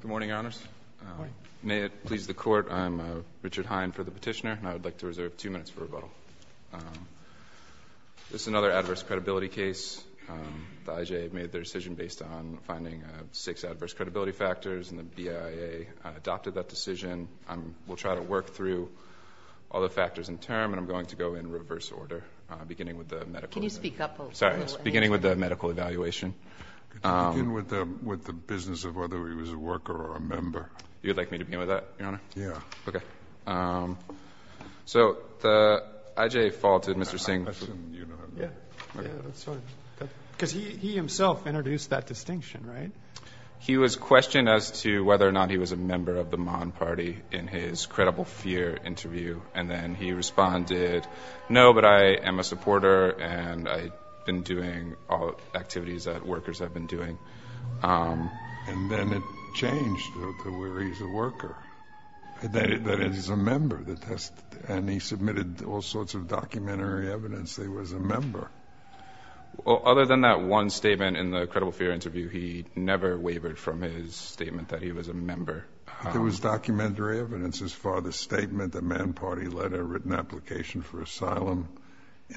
Good morning, Your Honors. Good morning. May it please the Court, I'm Richard Hine for the petitioner, and I would like to reserve two minutes for rebuttal. This is another adverse credibility case. The IJA made their decision based on finding six adverse credibility factors, and the BIA adopted that decision. We'll try to work through all the factors in turn, and I'm going to go in reverse order, beginning with the medical evaluation. Can you speak up a little? Sorry, beginning with the medical evaluation. Could you begin with the business of whether he was a worker or a member? You would like me to begin with that, Your Honor? Yes. Okay. So the IJA faulted Mr. Singh. Yes. Because he himself introduced that distinction, right? He was questioned as to whether or not he was a member of the Mon Party in his credible fear interview, and then he responded, no, but I am a supporter and I've been doing all the activities that workers have been doing. And then it changed to where he's a worker, that he's a member. And he submitted all sorts of documentary evidence that he was a member. Well, other than that one statement in the credible fear interview, he never wavered from his statement that he was a member. There was documentary evidence as far as the statement, the Man Party letter, written application for asylum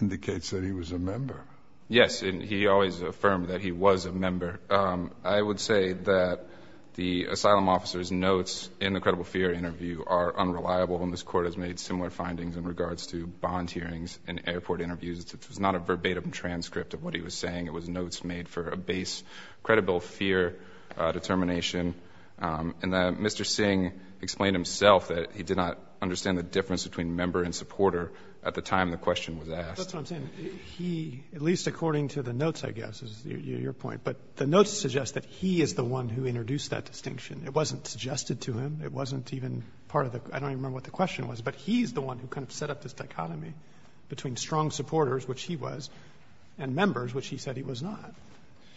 indicates that he was a member. Yes, and he always affirmed that he was a member. I would say that the asylum officer's notes in the credible fear interview are unreliable, and this Court has made similar findings in regards to bond hearings and airport interviews. It was not a verbatim transcript of what he was saying. It was notes made for a base credible fear determination. And Mr. Singh explained himself that he did not understand the difference between member and supporter at the time the question was asked. That's what I'm saying. He, at least according to the notes, I guess, is your point. But the notes suggest that he is the one who introduced that distinction. It wasn't suggested to him. It wasn't even part of the question. I don't even remember what the question was. But he's the one who kind of set up this dichotomy between strong supporters, which he was, and members, which he said he was not.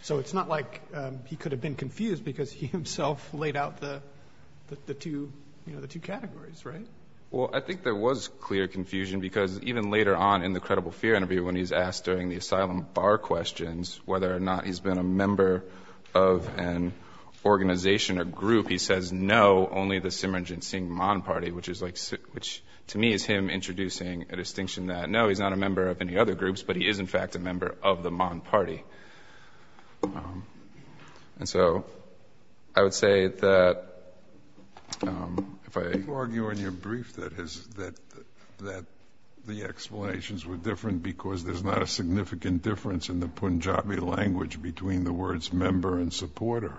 So it's not like he could have been confused because he himself laid out the two categories, right? Well, I think there was clear confusion because even later on in the credible fear interview when he's asked during the asylum bar questions whether or not he's been a member of an organization or group, he says no, only the Simran Jinn Singh Mon Party, which to me is him introducing a distinction that, no, he's not a member of any other groups, but he is, in fact, a member of the Mon Party. And so I would say that if I— You argue in your brief that the explanations were different because there's not a significant difference in the Punjabi language between the words member and supporter.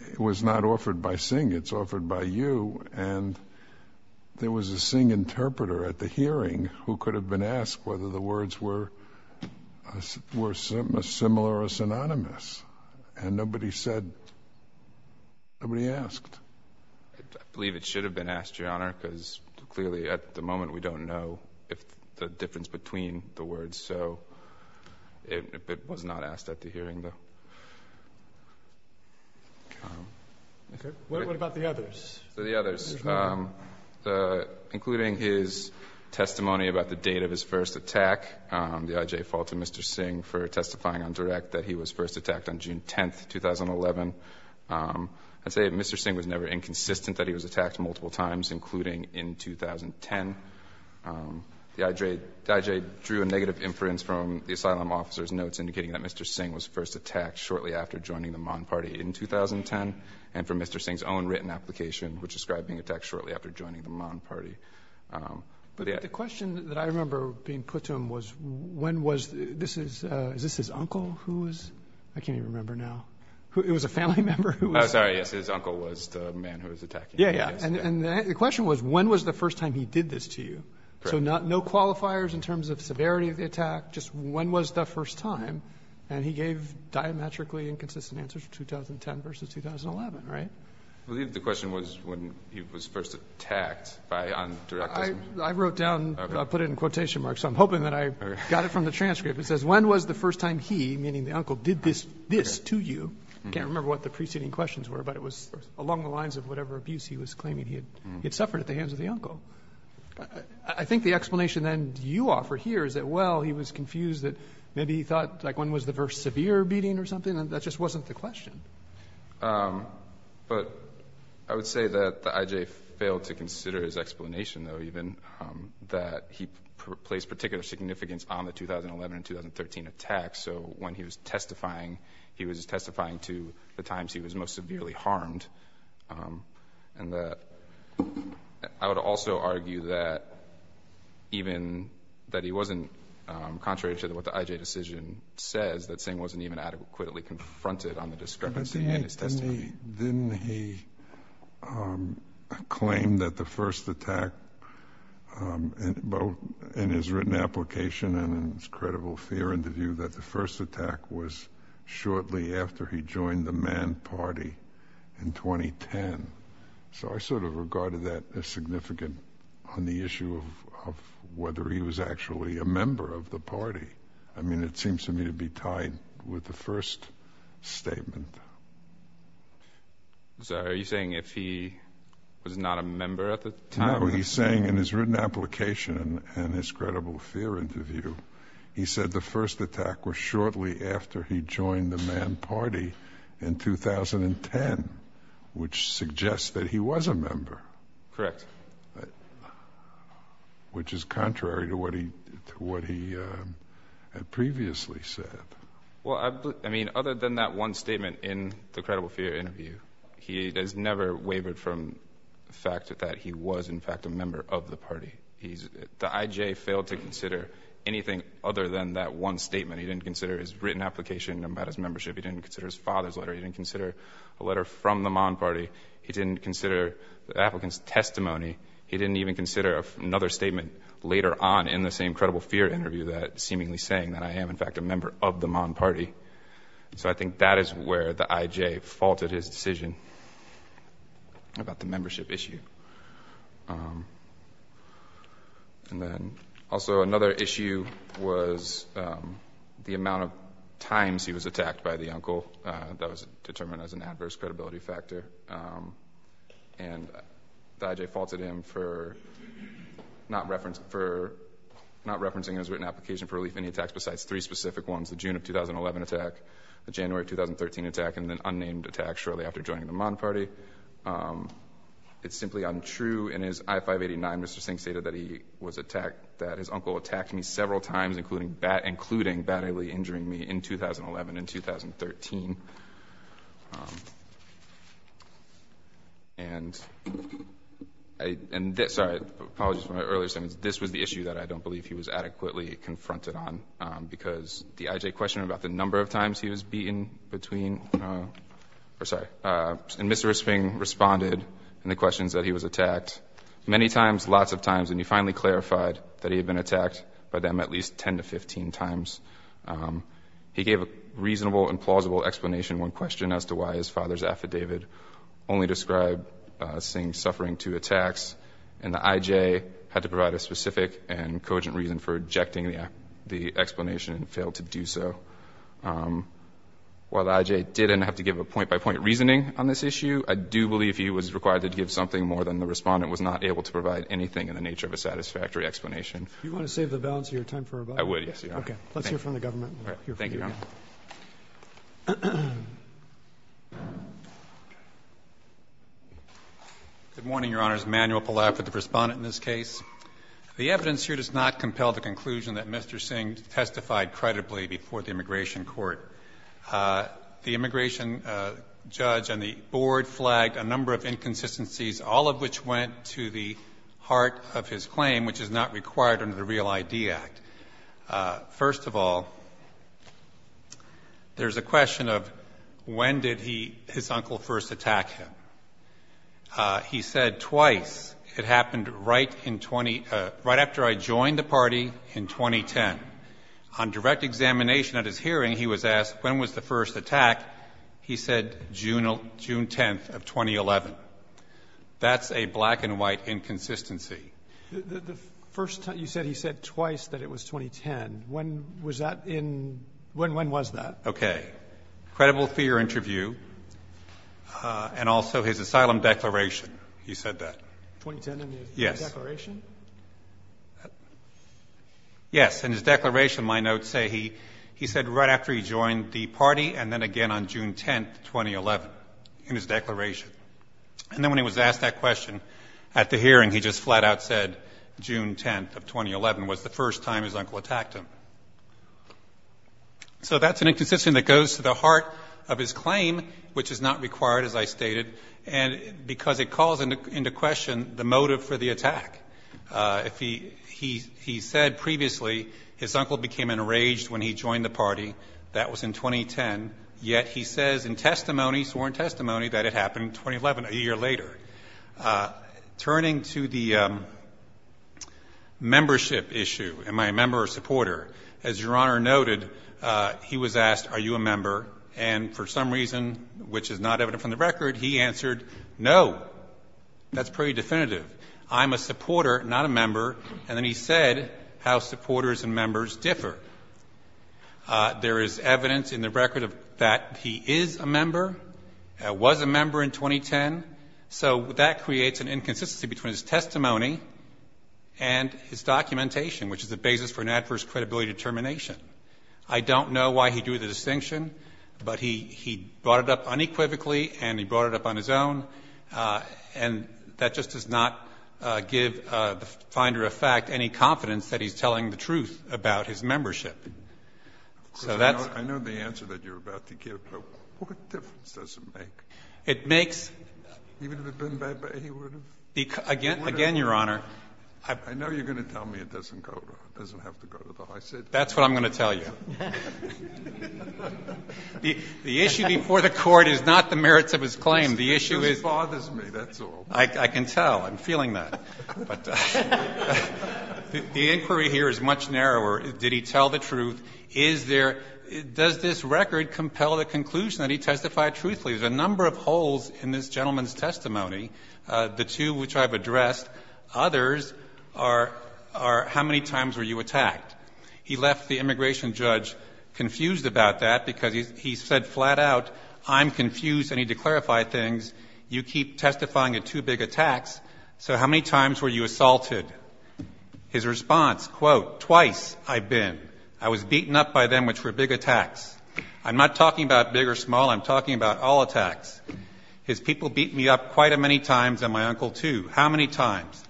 It was not offered by Singh. It's offered by you. And there was a Singh interpreter at the hearing who could have been asked whether the words were similar or synonymous. And nobody said—nobody asked. I believe it should have been asked, Your Honor, because clearly at the moment we don't know the difference between the words. So it was not asked at the hearing, though. What about the others? The others, including his testimony about the date of his first attack, the IJ faulted Mr. Singh for testifying on direct that he was first attacked on June 10, 2011. I'd say Mr. Singh was never inconsistent that he was attacked multiple times, including in 2010. The IJ drew a negative inference from the asylum officer's notes indicating that Mr. Singh was first attacked shortly after joining the Mon Party in 2010, and for Mr. Singh's own written application, which described being attacked shortly after joining the Mon Party. But the question that I remember being put to him was when was—this is—is this his uncle who was—I can't even remember now. It was a family member who was— Oh, sorry, yes. His uncle was the man who was attacking him. Yeah, yeah. And the question was when was the first time he did this to you. So no qualifiers in terms of severity of the attack, just when was the first time. And he gave diametrically inconsistent answers, 2010 v. 2011, right? I believe the question was when he was first attacked by on direct— I wrote down, put it in quotation marks, so I'm hoping that I got it from the transcript. It says when was the first time he, meaning the uncle, did this to you. I can't remember what the preceding questions were, but it was along the lines of whatever abuse he was claiming he had suffered at the hands of the uncle. I think the explanation then you offer here is that, well, he was confused that maybe he thought like when was the first severe beating or something, and that just wasn't the question. But I would say that the I.J. failed to consider his explanation, though, even, that he placed particular significance on the 2011 and 2013 attacks. So when he was testifying, he was testifying to the times he was most severely harmed. And I would also argue that even, that he wasn't, contrary to what the I.J. decision says, that Singh wasn't even adequately confronted on the discrepancy in his testimony. Didn't he claim that the first attack, both in his written application and in his credible fear interview, that the first attack was shortly after he joined the Man Party in 2010? So I sort of regarded that as significant on the issue of whether he was actually a member of the party. I mean, it seems to me to be tied with the first statement. So are you saying if he was not a member at the time? No, he's saying in his written application and his credible fear interview, he said the first attack was shortly after he joined the Man Party in 2010, which suggests that he was a member. Correct. Which is contrary to what he had previously said. Well, I mean, other than that one statement in the credible fear interview, he has never wavered from the fact that he was, in fact, a member of the party. The IJ failed to consider anything other than that one statement. He didn't consider his written application about his membership. He didn't consider his father's letter. He didn't consider a letter from the Man Party. He didn't consider the applicant's testimony. He didn't even consider another statement later on in the same credible fear interview that seemingly saying that I am, in fact, a member of the Man Party. So I think that is where the IJ faulted his decision about the membership issue. And then also another issue was the amount of times he was attacked by the uncle. That was determined as an adverse credibility factor. And the IJ faulted him for not referencing in his written application for relief any attacks besides three specific ones, the June of 2011 attack, the January of 2013 attack, and the unnamed attack shortly after joining the Man Party. It's simply untrue in his I-589, Mr. Sinks stated, that he was attacked, that his uncle attacked me several times, including badly injuring me in 2011 and 2013. And this, sorry, apologies for my earlier statements. This was the issue that I don't believe he was adequately confronted on, because the IJ questioned him about the number of times he was beaten between and Mr. Sphinx responded in the questions that he was attacked many times, lots of times, and he finally clarified that he had been attacked by them at least 10 to 15 times. He gave a reasonable and plausible explanation, one question as to why his father's affidavit only described Sinks suffering two attacks, and the IJ had to provide a specific and cogent reason for rejecting the explanation and failed to do so. While the IJ didn't have to give a point-by-point reasoning on this issue, I do believe he was required to give something more than the Respondent was not able to provide anything in the nature of a satisfactory explanation. Roberts. Do you want to save the balance of your time for rebuttal? I would, yes, Your Honor. Okay. Let's hear from the government. Thank you, Your Honor. Good morning, Your Honors. Manuel Palaf with the Respondent in this case. The evidence here does not compel the conclusion that Mr. Sinks testified credibly before the immigration court. The immigration judge and the board flagged a number of inconsistencies, all of which went to the heart of his claim, which is not required under the Real ID Act. First of all, there's a question of when did his uncle first attack him. He said twice. It happened right in 20 — right after I joined the party in 2010. On direct examination at his hearing, he was asked when was the first attack. He said June 10th of 2011. That's a black-and-white inconsistency. The first time — you said he said twice that it was 2010. When was that in — when was that? Okay. Credible fear interview and also his asylum declaration, he said that. 2010 in his declaration? Yes. Yes, in his declaration, my notes say he said right after he joined the party and then again on June 10th, 2011, in his declaration. And then when he was asked that question at the hearing, he just flat-out said June 10th of 2011 was the first time his uncle attacked him. So that's an inconsistency that goes to the heart of his claim, which is not required, as I stated, because it calls into question the motive for the attack. He said previously his uncle became enraged when he joined the party. That was in 2010. Yet he says in testimony, sworn testimony, that it happened 2011, a year later. Turning to the membership issue, am I a member or a supporter? As Your Honor noted, he was asked, are you a member? And for some reason, which is not evident from the record, he answered no. That's pretty definitive. I'm a supporter, not a member. And then he said how supporters and members differ. There is evidence in the record that he is a member, was a member in 2010. So that creates an inconsistency between his testimony and his documentation, which is the basis for an adverse credibility determination. I don't know why he drew the distinction, but he brought it up unequivocally and he brought it up on his own. And that just does not give the finder of fact any confidence that he's telling the truth about his membership. So that's the question. I know the answer that you're about to give, but what difference does it make? It makes. Even if it had been bad, he would have? Again, Your Honor. I know you're going to tell me it doesn't have to go to the high city. That's what I'm going to tell you. The issue before the Court is not the merits of his claim. The issue is. It just bothers me, that's all. I can tell. I'm feeling that. The inquiry here is much narrower. Did he tell the truth? Is there — does this record compel the conclusion that he testified truthfully? There's a number of holes in this gentleman's testimony, the two which I've addressed. Others are how many times were you attacked? He left the immigration judge confused about that because he said flat out, I'm confused. I need to clarify things. You keep testifying of two big attacks, so how many times were you assaulted? His response, quote, twice I've been. I was beaten up by them, which were big attacks. I'm not talking about big or small. I'm talking about all attacks. His people beat me up quite a many times and my uncle, too. How many times?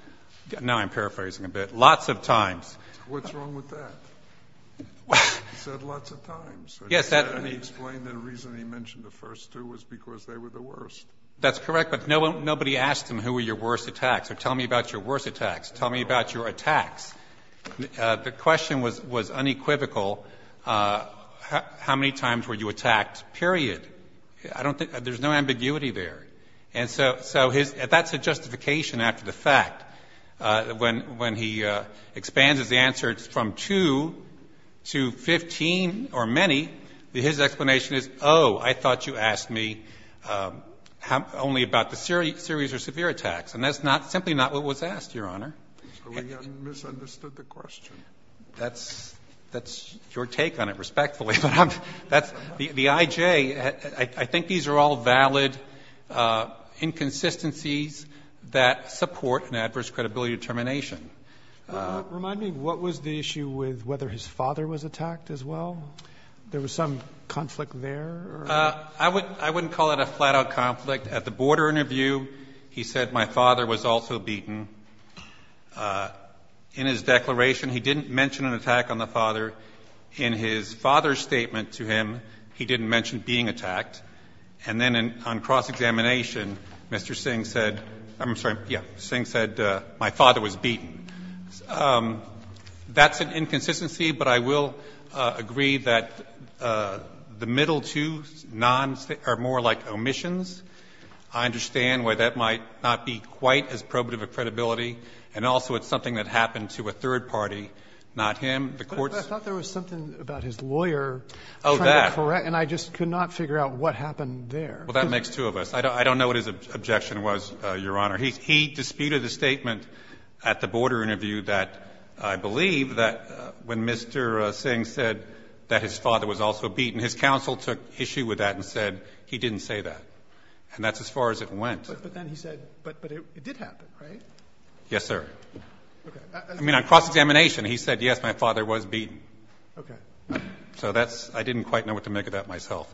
Now I'm paraphrasing a bit. Lots of times. What's wrong with that? He said lots of times. Yes. He explained the reason he mentioned the first two was because they were the worst. That's correct, but nobody asked him who were your worst attacks or tell me about your worst attacks. Tell me about your attacks. The question was unequivocal. How many times were you attacked, period? I don't think there's no ambiguity there. And so that's a justification after the fact. When he expands his answer, it's from two to 15 or many. His explanation is, oh, I thought you asked me only about the serious or severe attacks. And that's simply not what was asked, Your Honor. So we misunderstood the question. That's your take on it, respectfully. The IJ, I think these are all valid inconsistencies that support an adverse credibility determination. Remind me, what was the issue with whether his father was attacked as well? There was some conflict there? I wouldn't call it a flat-out conflict. At the border interview, he said my father was also beaten. In his declaration, he didn't mention an attack on the father. In his father's statement to him, he didn't mention being attacked. And then on cross-examination, Mr. Singh said my father was beaten. That's an inconsistency, but I will agree that the middle two are more like omissions. I understand why that might not be quite as probative a credibility, and also it's something that happened to a third party, not him. But I thought there was something about his lawyer trying to correct, and I just could not figure out what happened there. Well, that makes two of us. I don't know what his objection was, Your Honor. He disputed a statement at the border interview that I believe that when Mr. Singh said that his father was also beaten, his counsel took issue with that and said he didn't say that. And that's as far as it went. But then he said, but it did happen, right? Yes, sir. Okay. I mean, on cross-examination, he said, yes, my father was beaten. Okay. So that's ñ I didn't quite know what to make of that myself.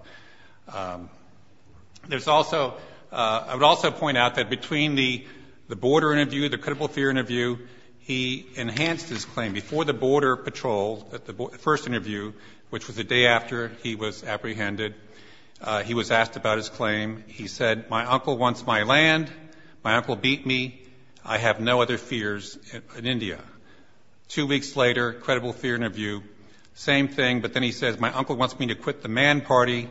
There's also ñ I would also point out that between the border interview, the critical fear interview, he enhanced his claim. Before the border patrol at the first interview, which was the day after he was apprehended, he was asked about his claim. He said, my uncle wants my land. My uncle beat me. I have no other fears in India. Two weeks later, credible fear interview, same thing, but then he says, my uncle wants me to quit the Man Party.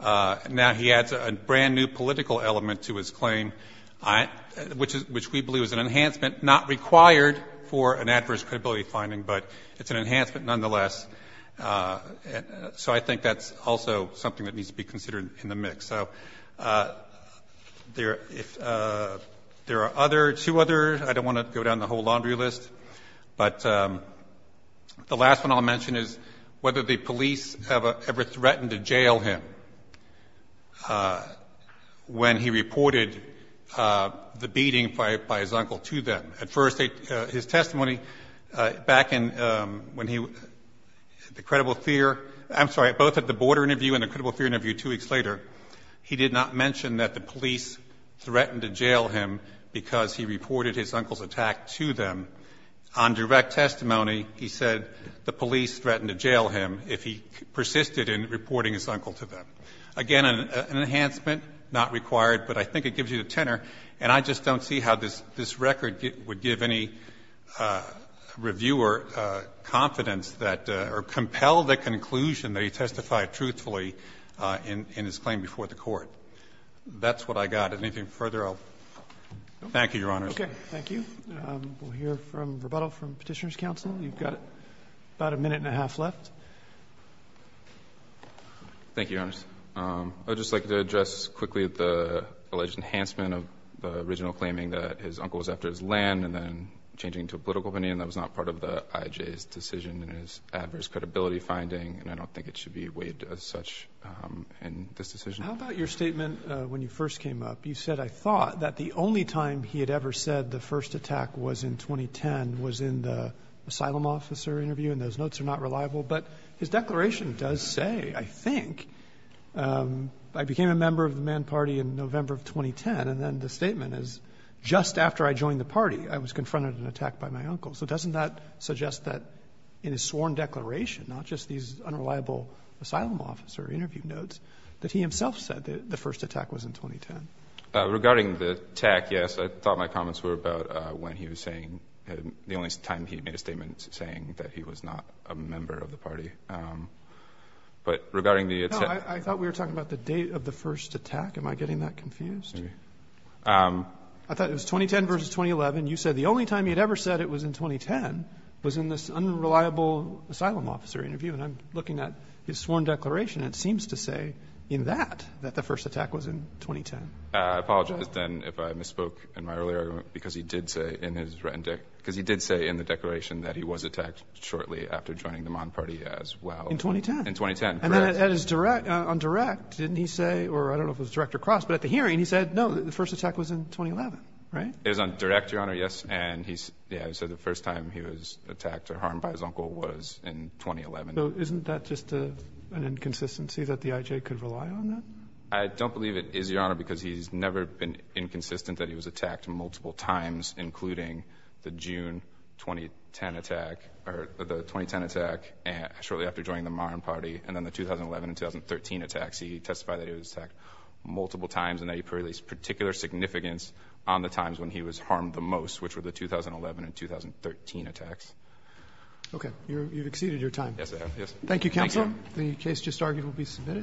Now he adds a brand-new political element to his claim, which we believe is an enhancement not required for an adverse credibility finding, but it's an enhancement nonetheless. So I think that's also something that needs to be considered in the mix. So there are other ñ two others. I don't want to go down the whole laundry list. But the last one I'll mention is whether the police have ever threatened to jail him when he reported the beating by his uncle to them. At first, his testimony back in ñ when he ñ the credible fear ñ I'm sorry, both of the border interview and the credible fear interview two weeks later, he did not mention that the police threatened to jail him because he reported his uncle's attack to them. On direct testimony, he said the police threatened to jail him if he persisted in reporting his uncle to them. Again, an enhancement not required, but I think it gives you the tenor, and I just don't see how this record would give any reviewer confidence that ñ or compel the conclusion that he testified truthfully in his claim before the Court. That's what I got. Anything further, I'll ñ thank you, Your Honors. Roberts. Thank you. We'll hear from rebuttal from Petitioner's counsel. You've got about a minute and a half left. Thank you, Your Honors. I would just like to address quickly the alleged enhancement of the original claiming that his uncle was after his land and then changing to a political in his adverse credibility finding, and I don't think it should be weighed as such in this decision. How about your statement when you first came up? You said, I thought, that the only time he had ever said the first attack was in 2010 was in the asylum officer interview, and those notes are not reliable. But his declaration does say, I think, I became a member of the Mann Party in November of 2010, and then the statement is, just after I joined the party, I was confronted an attack by my uncle. So doesn't that suggest that in his sworn declaration, not just these unreliable asylum officer interview notes, that he himself said that the first attack was in 2010? Regarding the attack, yes, I thought my comments were about when he was saying ñ the only time he made a statement saying that he was not a member of the party. But regarding the attack ñ No, I thought we were talking about the date of the first attack. Am I getting that confused? I thought it was 2010 versus 2011. You said the only time he had ever said it was in 2010 was in this unreliable asylum officer interview. And I'm looking at his sworn declaration. It seems to say in that, that the first attack was in 2010. I apologize, then, if I misspoke in my earlier argument, because he did say in his written ñ because he did say in the declaration that he was attacked shortly after joining the Mann Party as well. In 2010. In 2010, correct. And then on direct, didn't he say ñ or I don't know if it was direct or cross, but at the hearing he said, no, the first attack was in 2011, right? It was on direct, Your Honor, yes. And he said the first time he was attacked or harmed by his uncle was in 2011. So isn't that just an inconsistency, that the IJ could rely on that? I don't believe it is, Your Honor, because he's never been inconsistent that he was attacked multiple times, including the June 2010 attack ñ or the 2010 attack shortly after joining the Mann Party. And then the 2011 and 2013 attacks, he testified that he was attacked multiple times and that he put a particular significance on the times when he was harmed the most, which were the 2011 and 2013 attacks. Okay. You've exceeded your time. Yes, I have, yes. Thank you, counsel. The case just argued will be submitted.